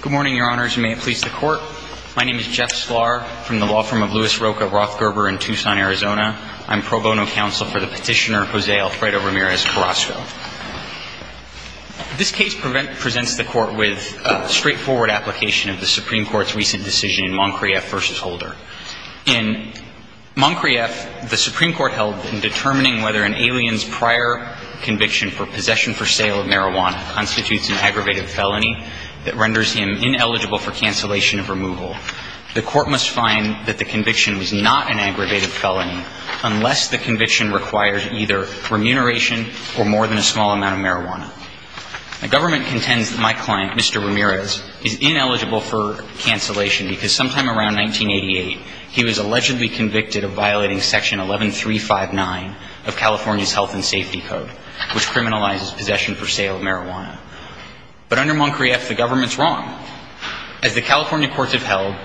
Good morning, Your Honors, and may it please the Court. My name is Jeff Sklar from the law firm of Lewis Rocha Rothgerber in Tucson, Arizona. I'm pro bono counsel for the petitioner Jose Alfredo Ramirez Carrazco. This case presents the Court with a straightforward application of the Supreme Court's recent decision in Moncrieff v. Holder. In Moncrieff, the Supreme Court held that determining whether an alien's prior conviction for possession for sale of marijuana constitutes an aggravated felony that renders him ineligible for cancellation of removal. The Court must find that the conviction was not an aggravated felony unless the conviction required either remuneration or more than a small amount of marijuana. The Government contends that my client, Mr. Ramirez, is ineligible for cancellation because sometime around 1988, he was allegedly convicted of violating Section 11359 of California's Health and Safety Code, which criminalizes possession for sale of marijuana. But under Moncrieff, the Government's wrong. As the California courts have held,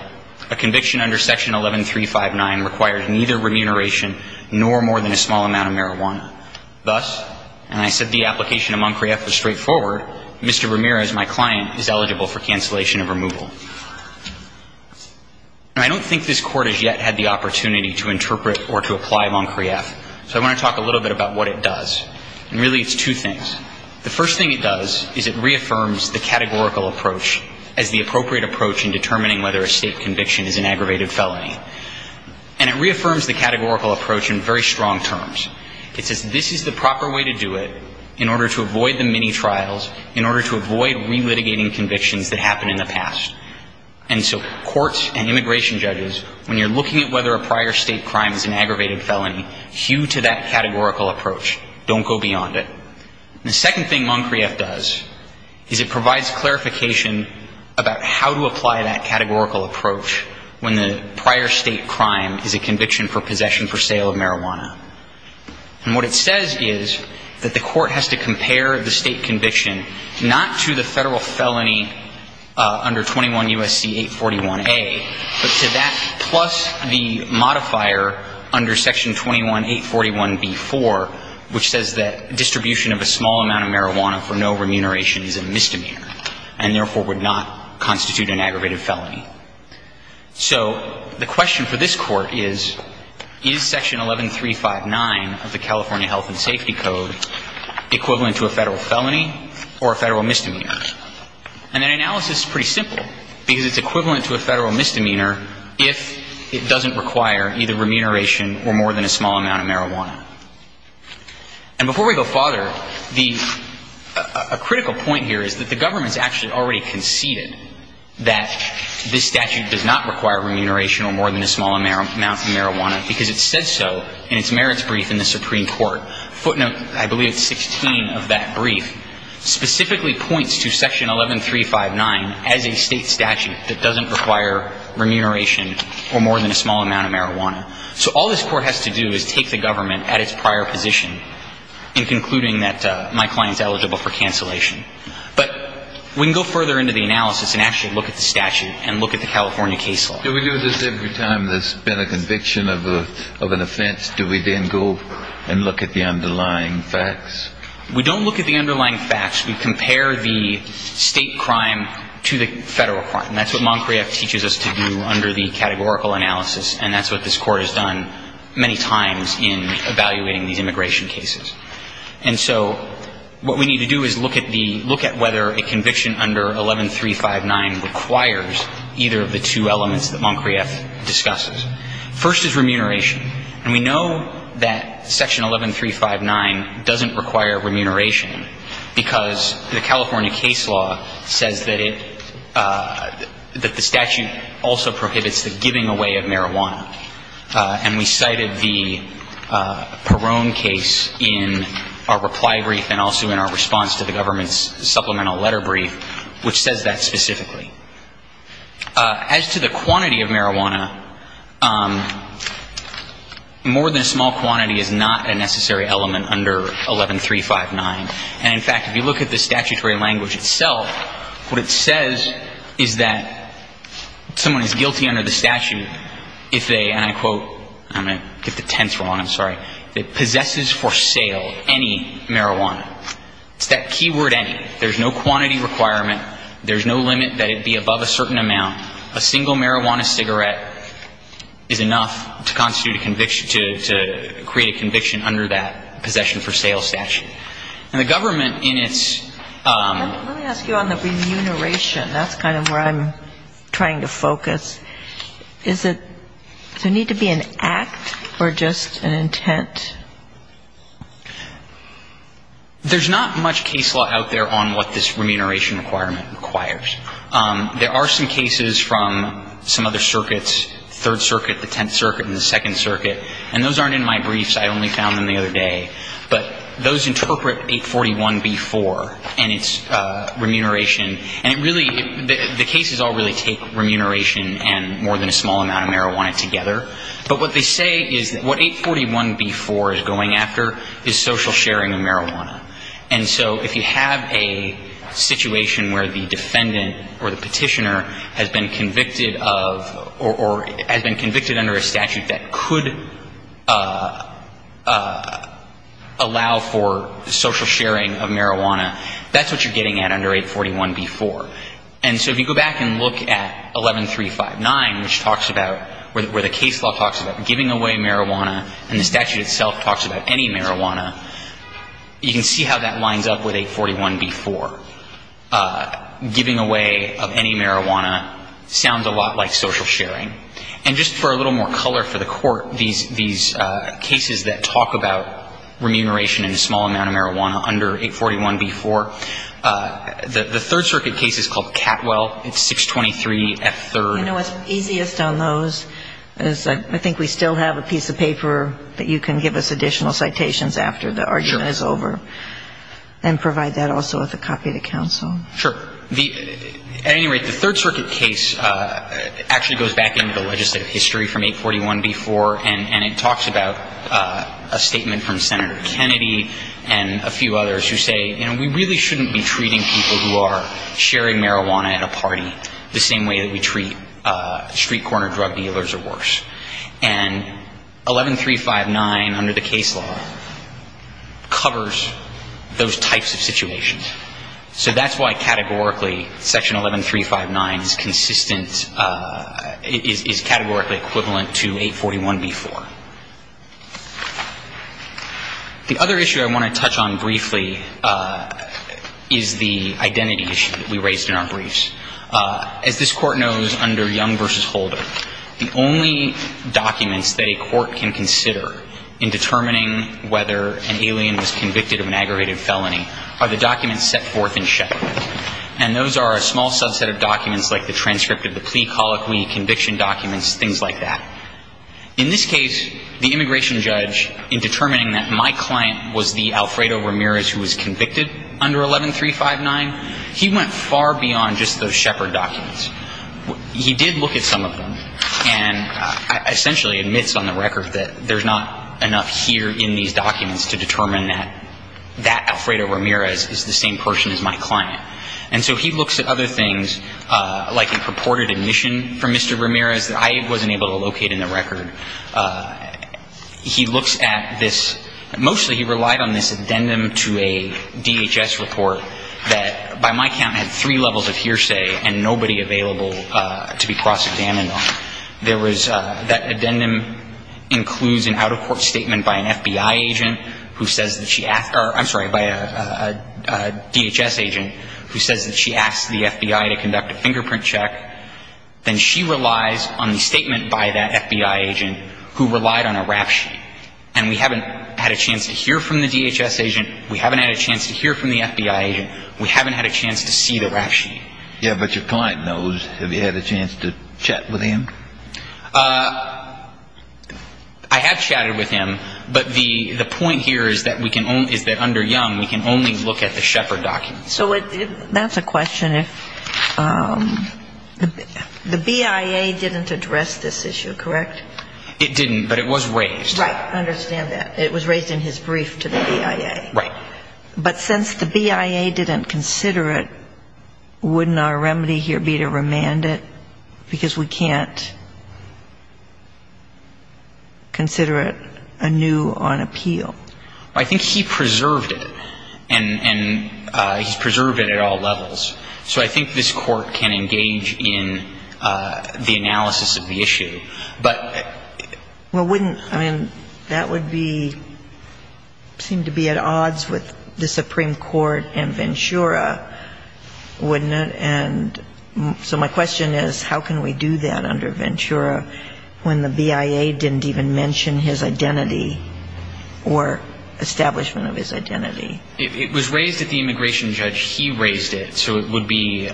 a conviction under Section 11359 requires neither remuneration nor more than a small amount of marijuana. Thus, and I said the application in Moncrieff was straightforward, Mr. Ramirez, my client, is eligible for cancellation of removal. Now, I don't think this Court has yet had the opportunity to interpret or to apply what it does. And really, it's two things. The first thing it does is it reaffirms the categorical approach as the appropriate approach in determining whether a state conviction is an aggravated felony. And it reaffirms the categorical approach in very strong terms. It says this is the proper way to do it in order to avoid the mini-trials, in order to avoid relitigating convictions that happened in the past. And so courts and immigration judges, when you're looking at whether a prior state crime is an aggravated felony, hew to that categorical approach. Don't go beyond it. And the second thing Moncrieff does is it provides clarification about how to apply that categorical approach when the prior state crime is a conviction for possession for sale of marijuana. And what it says is that the Court has to compare the state conviction not to the Federal felony under 21 U.S.C. 841A, but to that plus the modifier under Section 21 841B-4, which says that distribution of a small amount of marijuana for no remuneration is a misdemeanor, and therefore would not constitute an aggravated felony. So the question for this Court is, is Section 11359 of the California Health and Safety Code equivalent to a Federal felony or a Federal misdemeanor? And that analysis is pretty simple, because it's equivalent to a Federal misdemeanor if it doesn't require either remuneration or more than a small amount of marijuana. And before we go farther, the – a critical point here is that the government's actually already conceded that this statute does not require remuneration or more than a small amount of marijuana, because it said so in its merits brief in the Supreme Court. Footnote, I believe it's 16 of that brief, specifically points to Section 11359 as a state statute that doesn't require remuneration or more than a small amount of marijuana. So all this Court has to do is take the government at its prior position in concluding that my client's eligible for cancellation. But we can go further into the analysis and actually look at the statute and look at the California case law. Do we do this every time there's been a conviction of a – of an offense? Do we then go and look at the underlying facts? We don't look at the underlying facts. We compare the state crime to the Federal crime. And that's what Moncrief teaches us to do under the categorical analysis, and that's what this Court has done many times in evaluating these immigration cases. And so what we need to do is look at the – look at whether a conviction under 11359 requires either of the two elements that Moncrief discusses. First is remuneration. And we know that Section 11359 doesn't require remuneration because the California case law says that it – that the statute also prohibits the giving away of marijuana. And we cited the Perone case in our reply brief and also in our response to the government's supplemental letter brief, which says that specifically. As to the quantity of marijuana, more than a small quantity is not a necessary element under 11359. And in fact, if you look at the statutory language itself, what it says is that someone is guilty under the statute if they – and I quote – I'm going to get the tense wrong, I'm sorry – if they possesses for sale any marijuana. It's that key word, any. There's no quantity requirement. There's no limit that it be above a certain amount. A single marijuana cigarette is enough to constitute a conviction – to create a conviction under that possession for sale statute. And the government in its – Let me ask you on the remuneration. That's kind of where I'm trying to focus. Is it – does there need to be an act or just an intent? There's not much case law out there on what this remuneration requirement requires. There are some cases from some other circuits, Third Circuit, the Tenth Circuit, and the Second Circuit. And those aren't in my briefs. I only found them the other day. But those interpret 841b-4 and its remuneration. And it really – the cases all really take remuneration and more than a small amount of marijuana together. But what they say is that what 841b-4 is going after is social sharing of marijuana. And so if you have a situation where the defendant or the petitioner has been convicted of – or has been convicted under a statute that could allow for social sharing of marijuana, that's what you're getting at under 841b-4. And so if you go back and look at 11359, which talks about – where the case law talks about giving away marijuana, and the statute itself talks about any marijuana, you can see how that lines up with 841b-4. Giving away of any marijuana sounds a lot like social sharing. And just for a little more color for the Court, these cases that talk about remuneration and a small amount of marijuana under 841b-4, the Third Circuit case is called Catwell. It's 623F3. You know what's easiest on those is I think we still have a piece of paper that you can give us additional citations after the argument is over. Sure. And provide that also with a copy of the counsel. Sure. At any rate, the Third Circuit case actually goes back into the legislative history from 841b-4, and it talks about a statement from Senator Kennedy and a few others who say, you know, we really shouldn't be treating people who are sharing marijuana at a party the same way that we treat street corner drug dealers or worse. And 11359 under the case law covers those types of situations. So that's why categorically Section 11359 is consistent, is categorically equivalent to 841b-4. The other issue I want to touch on briefly is the identity issue that we raised in the last case, which is that the only documents that a court can consider in determining whether an alien was convicted of an aggravated felony are the documents set forth in Shepard. And those are a small subset of documents like the transcript of the plea colloquy, conviction documents, things like that. In this case, the immigration judge, in determining that my client was the Alfredo Ramirez who was convicted under 11359, he went far beyond just those Shepard documents. He did look at some of them and essentially admits on the record that there's not enough here in these documents to determine that that Alfredo Ramirez is the same person as my client. And so he looks at other things, like a purported admission from Mr. Ramirez that I wasn't able to locate in the record. He looks at this, mostly he relied on this addendum to a DHS report that by my count had three levels of hearsay and nobody available to be cross-examined on. There was that addendum includes an out-of-court statement by an FBI agent who says that she asked or, I'm sorry, by a DHS agent who says that she asked the FBI to conduct a fingerprint check. Then she relies on the statement by that FBI agent who relied on a rap sheet. And we haven't had a chance to hear from the DHS agent. We haven't had a chance to hear from the FBI agent. We haven't had a chance to see the rap sheet. Yeah, but your client knows. Have you had a chance to chat with him? I have chatted with him. But the point here is that we can only, is that under Young, we can only look at the Shepard documents. So that's a question if the BIA didn't address this issue, correct? It didn't, but it was raised. Right. I understand that. It was raised in his brief to the BIA. Right. But since the BIA didn't consider it, wouldn't our remedy here be to remand it? Because we can't consider it anew on appeal. I think he preserved it. And he's preserved it at all levels. So I think this court can engage in the analysis of the issue. Well, wouldn't, I mean, that would be, seem to be at odds with the Supreme Court and Ventura, wouldn't it? And so my question is, how can we do that under Ventura when the BIA didn't even mention his identity or establishment of his identity? It was raised at the immigration judge. He raised it. So it would be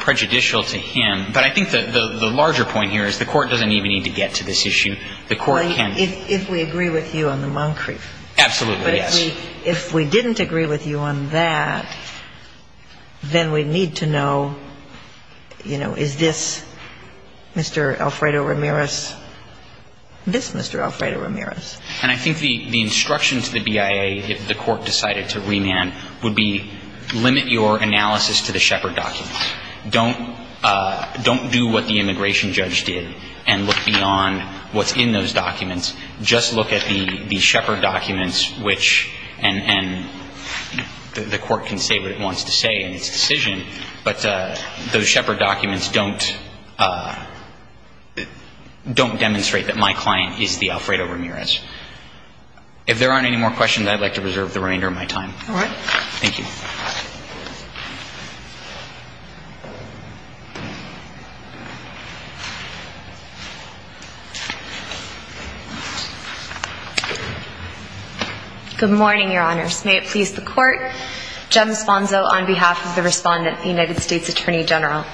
prejudicial to him. But I think the larger point here is the court doesn't even need to get to this issue. The court can. Well, if we agree with you on the Moncrief. Absolutely, yes. But if we didn't agree with you on that, then we need to know, you know, is this Mr. Alfredo Ramirez, this Mr. Alfredo Ramirez? And I think the instruction to the BIA, if the court decided to remand, would be limit your analysis to the Shepard documents. Don't do what the immigration judge did and look beyond what's in those documents. Just look at the Shepard documents, which, and the court can say what it wants to say in its decision, but those Shepard documents don't, don't demonstrate that my client is the Alfredo Ramirez. If there aren't any more questions, I'd like to reserve the remainder of my time. All right. Thank you. Good morning, Your Honors. May it please the court, Jem Sponzo on behalf of the respondent, the United States Attorney General.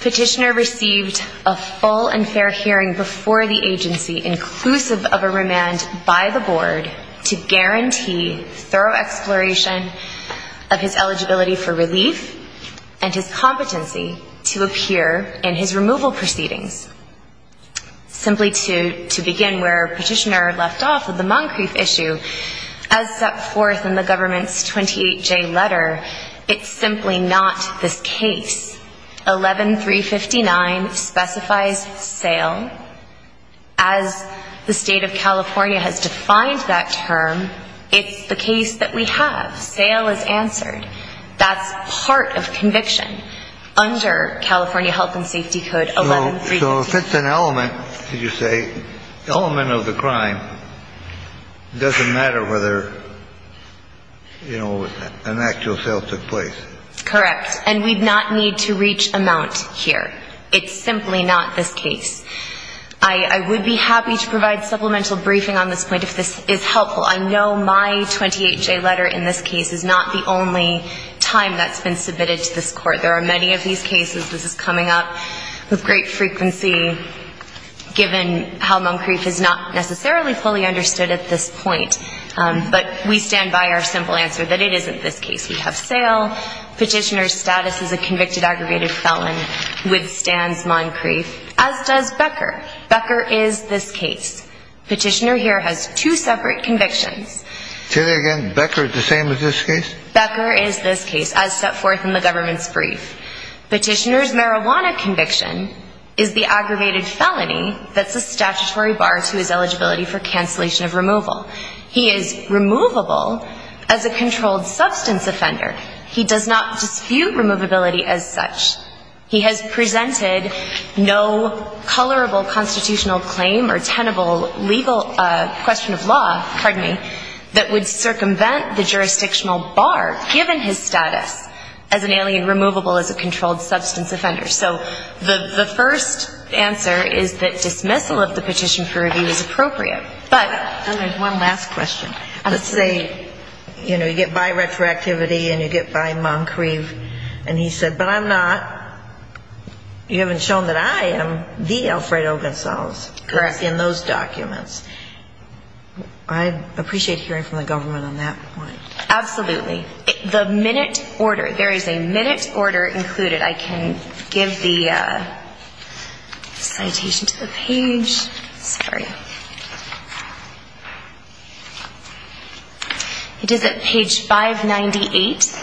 Petitioner received a full and fair hearing before the agency, inclusive of a remand by the board, to guarantee thorough exploration of his eligibility for relief and his competency to appear in his removal proceedings. Simply to begin where Petitioner left off with the Moncrief issue, as set forth in the government's 28J letter, it's simply not this case. 11359 specifies sale. As the state of California has defined that term, it's the case that we have. Sale is answered. That's part of conviction under California Health and Safety Code 11359. So if it's an element, did you say, element of the crime, it doesn't matter whether, you know, an actual sale took place. Correct. And we'd not need to reach amount here. It's simply not this case. I would be happy to provide supplemental briefing on this point if this is helpful. I know my 28J letter in this case is not the only time that's been submitted to this court. There are many of these cases. This is coming up with great frequency, given how Moncrief is not necessarily fully understood at this point. But we stand by our simple answer that it isn't this case. We have sale. Petitioner's status as a criminal is this case. Petitioner here has two separate convictions. Say that again. Becker is the same as this case? Becker is this case, as set forth in the government's brief. Petitioner's marijuana conviction is the aggravated felony that's a statutory bar to his eligibility for cancellation of removal. He is removable as a controlled substance offender. He does not dispute removability as such. He has presented no colorable constitutional claim or tenable legal question of law, pardon me, that would circumvent the jurisdictional bar given his status as an alien removable as a controlled substance offender. So the first answer is that dismissal of the petition for review is appropriate. But one last question. Let's say, you know, you get by retroactivity and you get by Moncrieve and he said, but I'm not. You haven't shown that I am the Alfred Ogunsalves in those documents. I appreciate hearing from the government on that point. Absolutely. The minute order, there is a minute order included. I can give the citation to the page. Sorry. It is at page 598.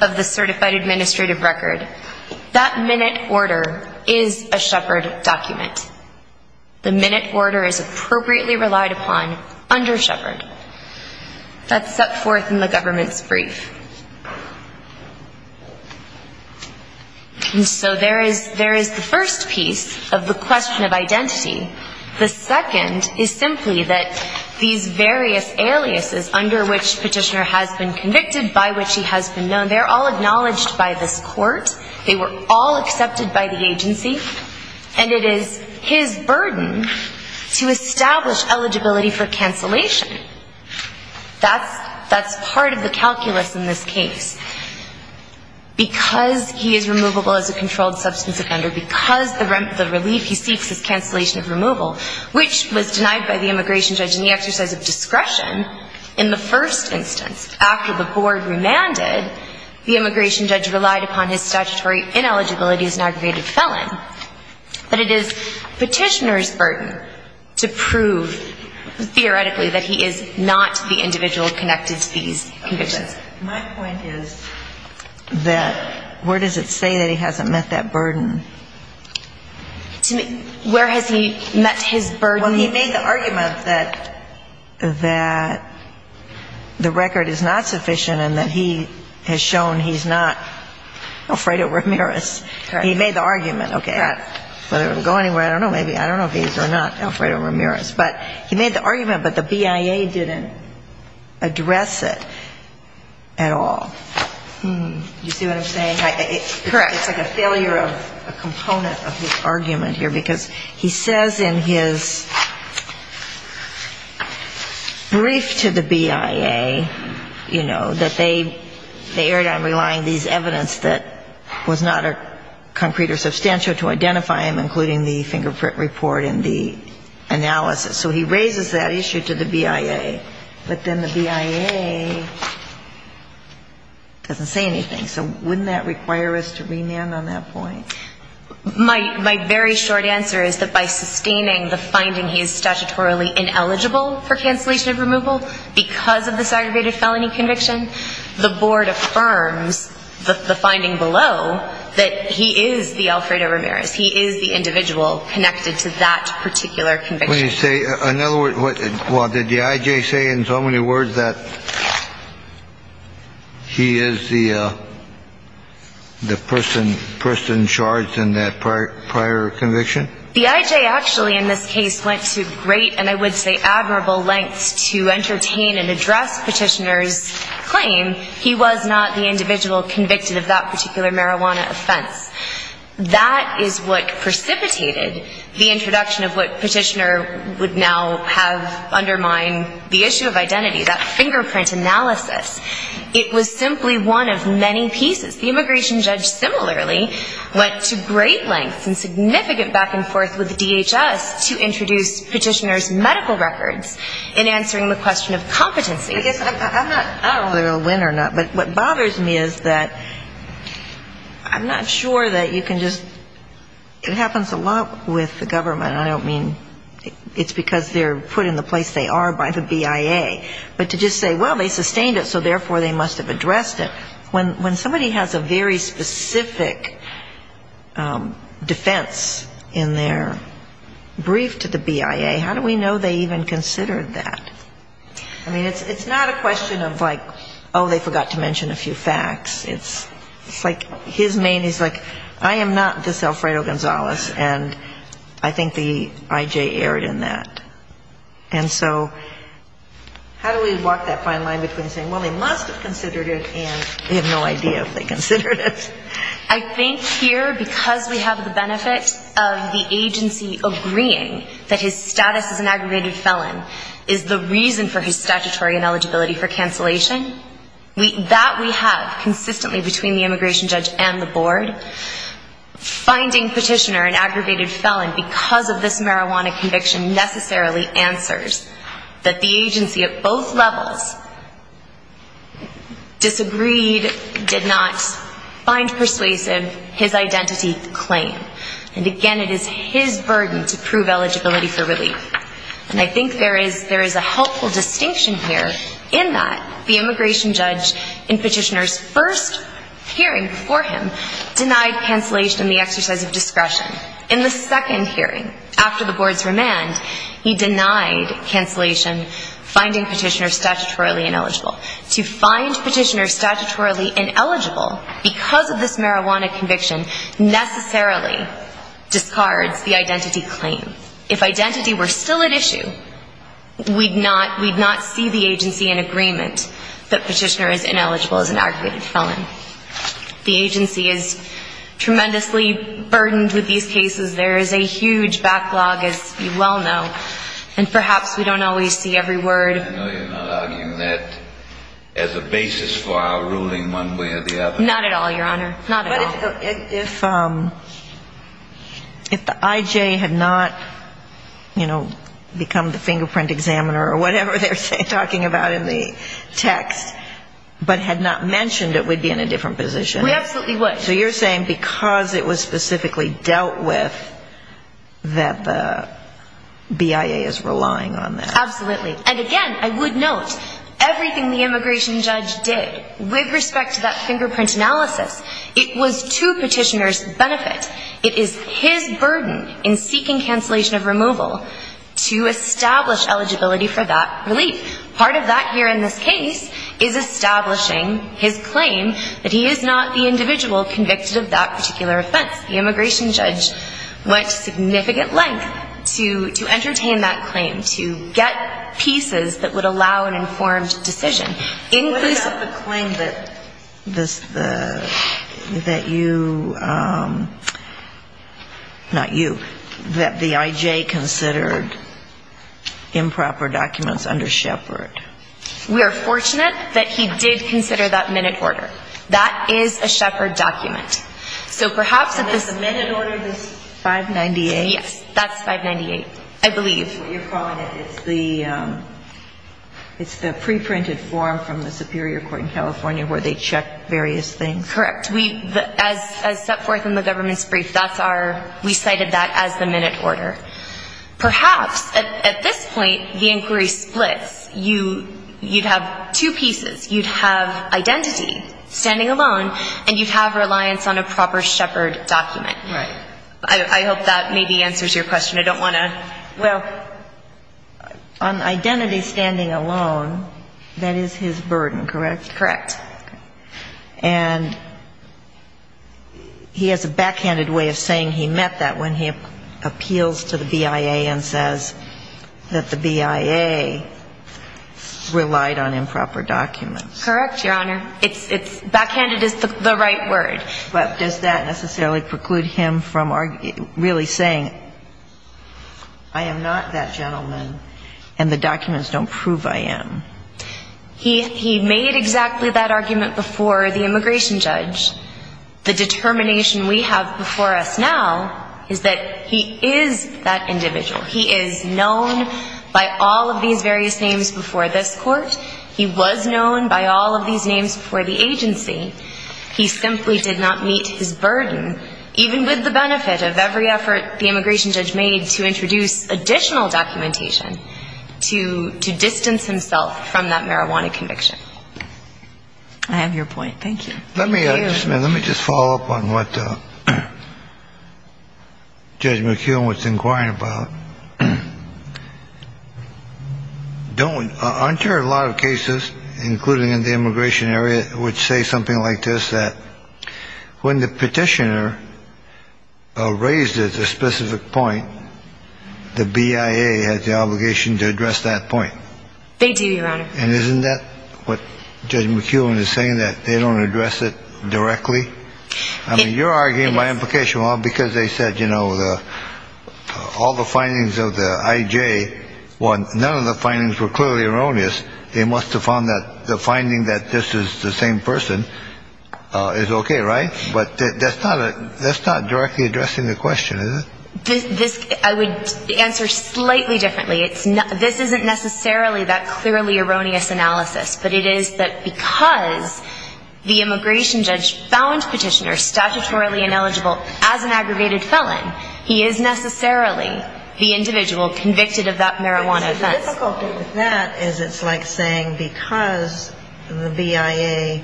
Of the certified administrative record. That minute order is a Shepard document. The minute order is appropriately relied upon under Shepard. That's set forth in the government's brief. So there is the first piece of the question of identity. The second is simply that these various aliases under which petitioner has been convicted, by which he has been known, they're all acknowledged by this court. They were all accepted by the agency. And it is his burden to establish eligibility for cancellation. That's part of the calculus in this case. Because he is removable as a controlled substance offender, because the relief he seeks is cancellation of removal, which was denied by the immigration judge in the exercise of discretion in the first instance. After the board remanded, the immigration judge relied upon his statutory ineligibility as an aggravated felon. But it is petitioner's burden to prove theoretically that he is not the individual connected to these convictions. My point is that where does it say that he hasn't met that burden? Where has he met his burden? Well, he made the argument that the record is not sufficient and that he has shown he's not Alfredo Ramirez. He made the argument, okay. Whether it will go anywhere, I don't know, maybe, I don't know if he's or not Alfredo Ramirez. But he made the argument, but the BIA didn't address it at all. You see what I'm saying? Correct. It's like a failure of a component of his argument here, because he says in his brief to the BIA, you know, that they erred on relying these evidence that was not concrete or substantial to identify him, including the fingerprint report and the analysis. So he raises that issue to the BIA. But then the BIA doesn't say anything. So wouldn't that require us to remand on that point? My very short answer is that by sustaining the finding he is statutorily ineligible for cancellation of removal because of the segregated felony conviction, the board affirms the finding below that he is the Alfredo Ramirez. He is the individual connected to that particular conviction. Let me say another word. Well, did the I.J. say in so many words that he is the person charged in that prior conviction? The I.J. actually in this case went to great and I would say admirable lengths to entertain and address Petitioner's claim he was not the individual convicted of that particular marijuana offense. That is what precipitated the introduction of what Petitioner would now have undermine the issue of identity, that fingerprint analysis. It was simply one of many pieces. The immigration judge similarly went to great lengths and significant back and forth with the DHS to introduce Petitioner's medical records in answering the question of competency. I guess I'm not going to win or not, but what bothers me is that I'm not sure that you can just, it happens a lot with the government. I don't mean it's because they're put in the place they are by the BIA, but to just say, well, they sustained it, so therefore they must have addressed it. When somebody has a very specific defense in their brief to the BIA, how do we know they even considered that? I mean, it's not a question of like, oh, they forgot to sell Fredo Gonzalez, and I think the IJ erred in that. And so how do we walk that fine line between saying, well, they must have considered it, and they have no idea if they considered it? I think here because we have the benefit of the agency agreeing that his status as an aggravated felon is the reason for his statutory ineligibility for cancellation, that we have finding petitioner an aggravated felon because of this marijuana conviction necessarily answers that the agency at both levels disagreed, did not find persuasive his identity claim. And again, it is his burden to prove eligibility for relief. And I think there is a helpful distinction here in that the immigration judge in petitioner's first hearing for him denied cancellation of his identification in the exercise of discretion. In the second hearing, after the board's remand, he denied cancellation, finding petitioner statutorily ineligible. To find petitioner statutorily ineligible because of this marijuana conviction necessarily discards the identity claim. If identity were still at issue, we'd not see the agency in agreement that petitioner is ineligible as an aggravated felon. I think there is a helpful distinction here in that the immigration judge in petitioner's first hearing for him denied cancellation of his identification in the exercise of discretion. To find petitioner statutorily ineligible because of this marijuana conviction necessarily discards the identity claim. To find petitioner statutorily ineligible because of this marijuana conviction necessarily discards the identity claim. And again, I would note, everything the immigration judge did with respect to that fingerprint analysis, it was to petitioner's benefit. It is his burden in seeking cancellation of removal to establish eligibility for that relief. Part of that here in this case is establishing his claim that he is not the individual convicted of that particular offense. The immigration judge went to significant length to entertain that claim, to get pieces that would allow an informed decision. What about the claim that you, not you, that the I.J. considered improper documents under Shepard? We are fortunate that he did consider that minute order. That is a Shepard document. That is a Shepard document. And the minute order is 598? Yes, that's 598, I believe. That's what you're calling it. It's the preprinted form from the superior court in California where they check various things. Correct. As set forth in the government's brief, we cited that as the minute order. Perhaps at this point, the inquiry would be to determine whether or not that was an improper Shepard document. Right. I hope that maybe answers your question. I don't want to ‑‑ Well, on identity standing alone, that is his burden, correct? Correct. And he has a backhanded way of saying he meant that when he appeals to the BIA and says that the BIA relied on improper documents. Correct, Your Honor. Backhanded is the right word. But does that necessarily preclude him from really saying I am not that gentleman and the documents don't prove I am? He made exactly that argument before the immigration judge. The determination we have before us now is that he is that individual. He is known by all of these various names before this court. He was known by all of these names before the agency. He simply did not meet his burden, even with the benefit of every effort the immigration judge made to introduce additional documentation to distance himself from that marijuana conviction. I have your point. Thank you. Let me just follow up on what Judge McKeown was inquiring about. Don't ‑‑ aren't there a lot of cases, including in the immigration area, which say something like this, that when the petitioner raises a specific point, the BIA has the obligation to address that point? They do, Your Honor. And isn't that what Judge McKeown is saying, that they don't address it directly? I mean, you're arguing my implication, because they said, you know, all the findings of the IJ, well, none of the findings were clearly erroneous. They must have found that the finding that this is the same person is OK, right? But that's not directly addressing the question, is it? I would answer slightly differently. This isn't necessarily that clearly erroneous analysis. But it is that because the immigration judge found petitioner statutorily ineligible as an aggregated felon, he is necessarily the individual convicted of that marijuana offense. The difficulty with that is it's like saying because the BIA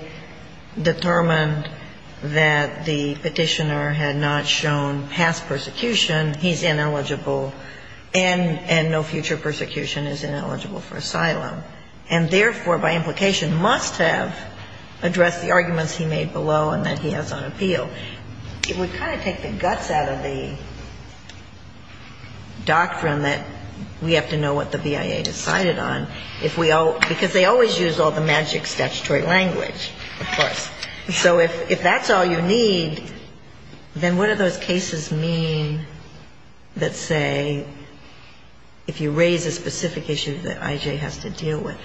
determined that this person was a convicted felon, that the petitioner had not shown past persecution, he's ineligible, and no future persecution is ineligible for asylum. And therefore, by implication, must have addressed the arguments he made below and that he has on appeal. It would kind of take the guts out of the doctrine that we have to know what the BIA decided on, because they always use all the magic statutory language, of course. So if that's all you need, then what do those cases mean that say if you raise a specific issue that I.J. has to deal with?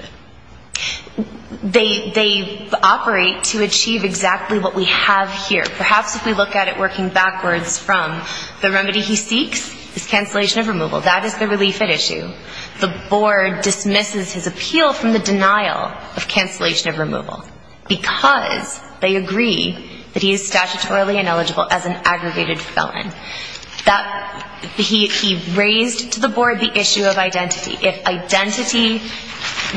They operate to achieve exactly what we have here. Perhaps if we look at it working backwards from the remedy he seeks is cancellation of removal. That is the relief at issue. The board dismisses his appeal from the denial of cancellation of removal, because they agree that he is statutorily ineligible as an aggravated felon. That he raised to the board the issue of identity. If identity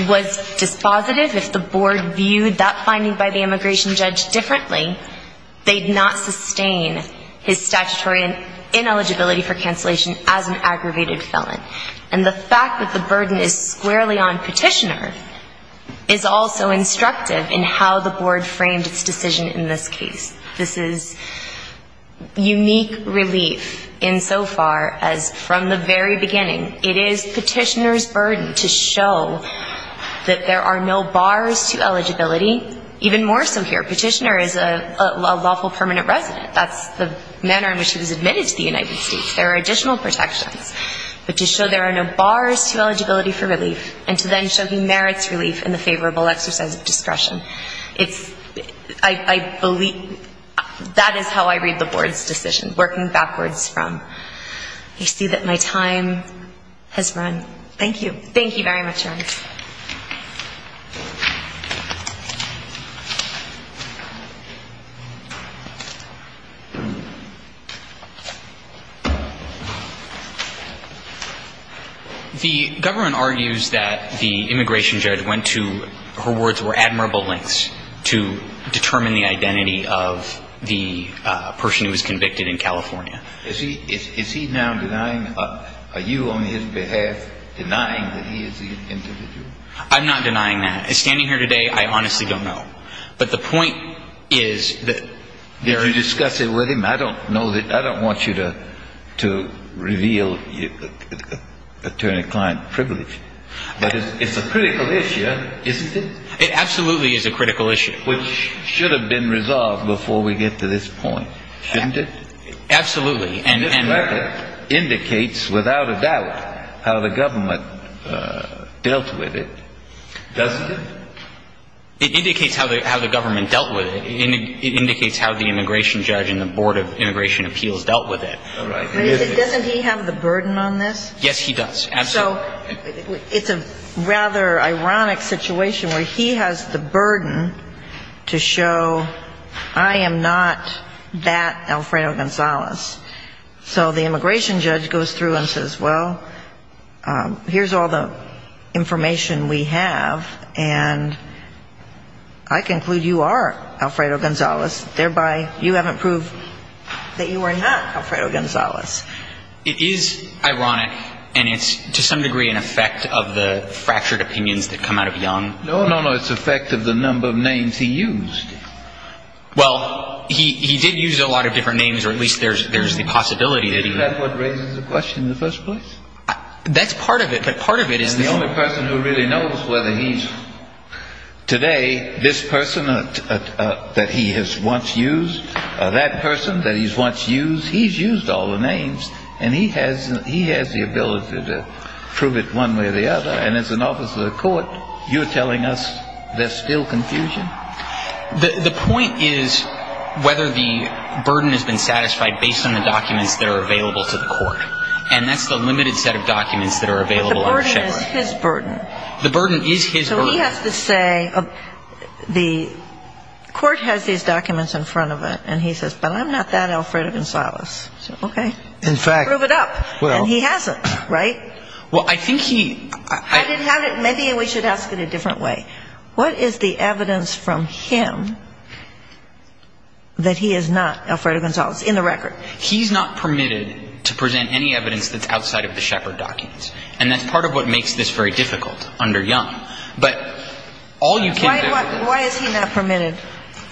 was dispositive, if the board viewed that finding by the immigration judge differently, they'd not sustain his statutory ineligibility for cancellation as an aggravated felon. And the fact that the burden is squarely on Petitioner is also instructive in how the board framed its decision in this case. This is unique relief insofar as from the very beginning, it is Petitioner's burden to show that there are no bars to eligibility, even more so here. Petitioner is a lawful permanent resident. That's the manner in which he was admitted to the United States. There are additional protections, but to show there are no bars to eligibility for relief, and to then show he merits relief in the favorable exercise of discretion. I believe that is how I read the board's decision, working backwards from. I see that my time has run. Thank you. The government argues that the immigration judge went to, her words were, admirable lengths to determine the identity of the person who was convicted in California. Is he now denying, are you on his behalf denying that he is the individual? I'm not denying that. Standing here today, I honestly don't know. Did you discuss it with him? I don't want you to reveal attorney-client privilege. But it's a critical issue, isn't it? It absolutely is a critical issue. It should have been resolved before we get to this point, shouldn't it? Absolutely. And this record indicates without a doubt how the government dealt with it, doesn't it? It indicates how the government dealt with it. It indicates how the immigration judge and the board of immigration appeals dealt with it. Doesn't he have the burden on this? Yes, he does. So it's a rather ironic situation where he has the burden to show I am not that Alfredo Gonzalez. So the immigration judge goes through and says, well, here's all the information we have, and I conclude you are Alfredo Gonzalez, thereby you haven't proved that you are not Alfredo Gonzalez. It is ironic, and it's to some degree an effect of the fractured opinions that come out of Young. No, no, no, it's an effect of the number of names he used. Well, he did use a lot of different names, or at least there's the possibility that he would. Isn't that what raises the question in the first place? That's part of it, but part of it is the... And the only person who really knows whether he's today this person that he has once used, that person that he's once used, he's used all the names, and he has the ability to prove it one way or the other. And as an officer of the court, you're telling us there's still confusion? The point is whether the burden has been satisfied based on the documents that are available to the court, and that's the limited set of documents that are available on the checkbook. But the burden is his burden. The burden is his burden. So he has to say, the court has these documents in front of it, and he says, but I'm not that Alfredo Gonzalez. Okay. In fact... Prove it up. Well... And he hasn't, right? Well, I think he... Maybe we should ask it a different way. What is the evidence from him that he is not Alfredo Gonzalez in the record? He's not permitted to present any evidence that's outside of the Shepard documents, and that's part of what makes this very difficult under Young. But all you can... Why is he not permitted?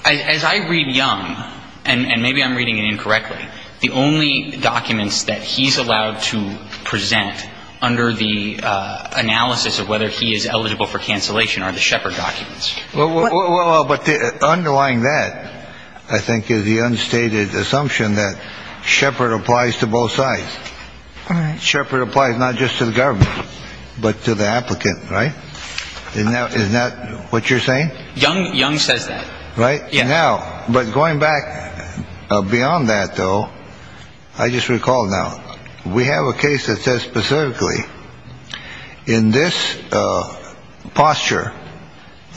As I read Young, and maybe I'm reading it incorrectly, the only documents that he's allowed to present under the analysis of whether he is eligible for cancellation are the Shepard documents. Well, but underlying that, I think, is the unstated assumption that Shepard applies to both sides. All right. Shepard applies not just to the government, but to the applicant, right? Is that what you're saying? Young says that. Right? Now, but going back beyond that, though, I just recall now, we have a case that says specifically, in this posture,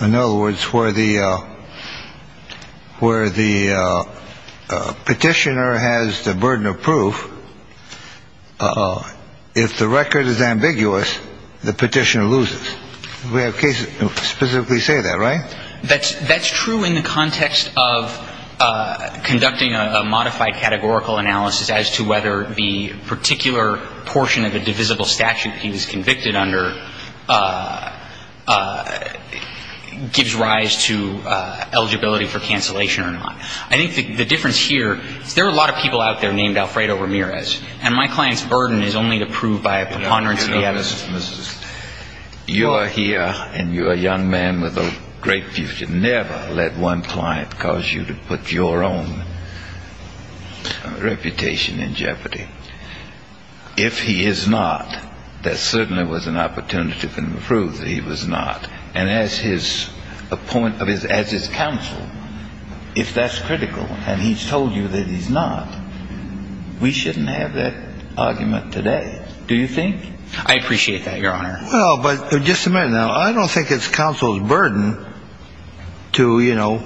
in other words, where the petitioner has the burden of proof, if the record is ambiguous, the petitioner loses. We have cases specifically say that, right? That's true in the context of conducting a modified categorical analysis as to whether the particular portion of a divisible statute he was convicted under gives rise to eligibility for cancellation or not. I think the difference here is there are a lot of people out there named Alfredo Ramirez, and my client's burden is only to prove by a preponderance of the evidence. You're here, and you're a young man with a great future. Never let one client cause you to put your own reputation in jeopardy. If he is not, there certainly was an opportunity to prove that he was not. And as his counsel, if that's critical, and he's told you that he's not, we shouldn't have that argument today. Do you think? I appreciate that, Your Honor. Well, but just a minute now. I don't think it's counsel's burden to, you know,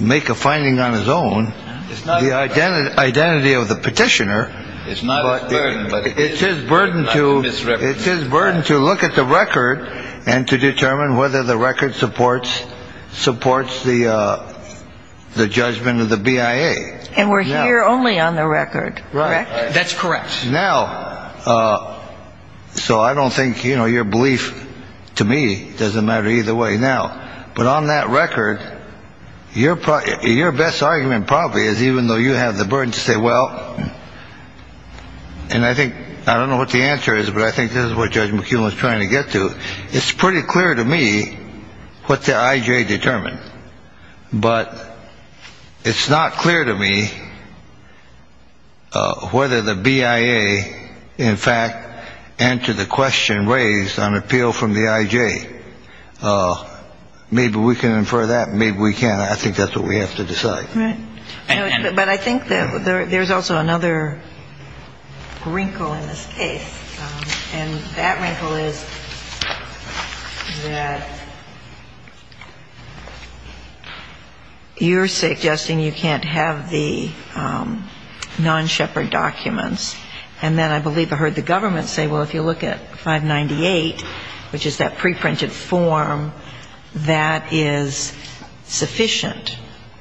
make a finding on his own. The identity of the petitioner, it's his burden to look at the record and to determine whether the record supports the judgment of the BIA. And we're here only on the record, correct? That's correct. Now, so I don't think, you know, your belief to me doesn't matter either way now. But on that record, your your best argument probably is even though you have the burden to say, well. And I think I don't know what the answer is, but I think this is what Judge McKeown is trying to get to. It's pretty clear to me what the IJ determined. But it's not clear to me whether the BIA, in fact, answer the question raised on appeal from the IJ. Maybe we can infer that. Maybe we can't. I think that's what we have to decide. But I think that there's also another wrinkle in this case. And that wrinkle is that you're suggesting you can't have the non-Shepard documents. And then I believe I heard the government say, well, if you look at 598, which is that preprinted form, that is sufficient.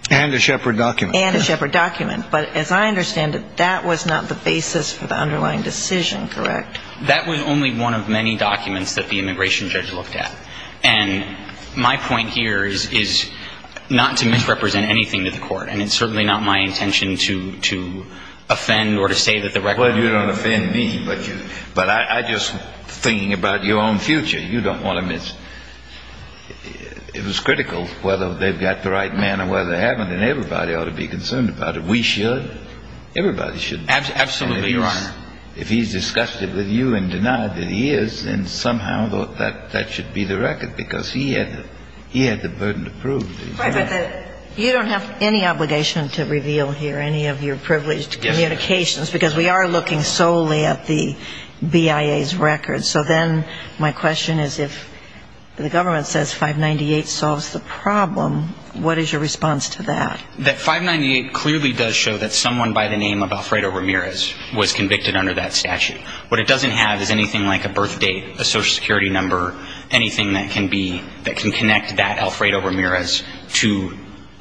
And a Shepard document. And a Shepard document. But as I understand it, that was not the basis for the underlying decision, correct? That was only one of many documents that the immigration judge looked at. And my point here is not to misrepresent anything to the court. And it's certainly not my intention to to offend or to say that the record. Well, you don't offend me, but you but I just thinking about your own future, you don't want to miss. It was critical whether they've got the right man or whether they haven't, and everybody ought to be concerned about it. We should. Everybody should. Absolutely, Your Honor. If he's disgusted with you and denied that he is and somehow thought that that should be the record because he had he had the burden to prove. You don't have any obligation to reveal here any of your privileged communications because we are looking solely at the BIA's records. So then my question is if the government says 598 solves the problem, what is your response to that? That 598 clearly does show that someone by the name of Alfredo Ramirez was convicted under that statute. What it doesn't have is anything like a birth date, a Social Security number, anything that can be that can connect that Alfredo Ramirez to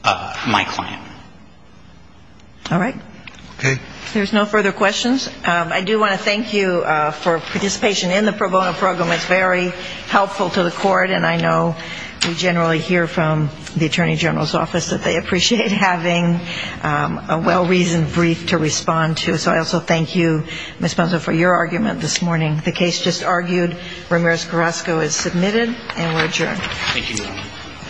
my client. All right. Okay. There's no further questions. I do want to thank you for participation in the pro bono program. It's very helpful to the court. And I know we generally hear from the attorney general's office that they appreciate having a well-reasoned brief to respond to. So I also thank you, Ms. Ponson, for your argument this morning. The case just argued. Ramirez-Carrasco is submitted and we're adjourned. Thank you.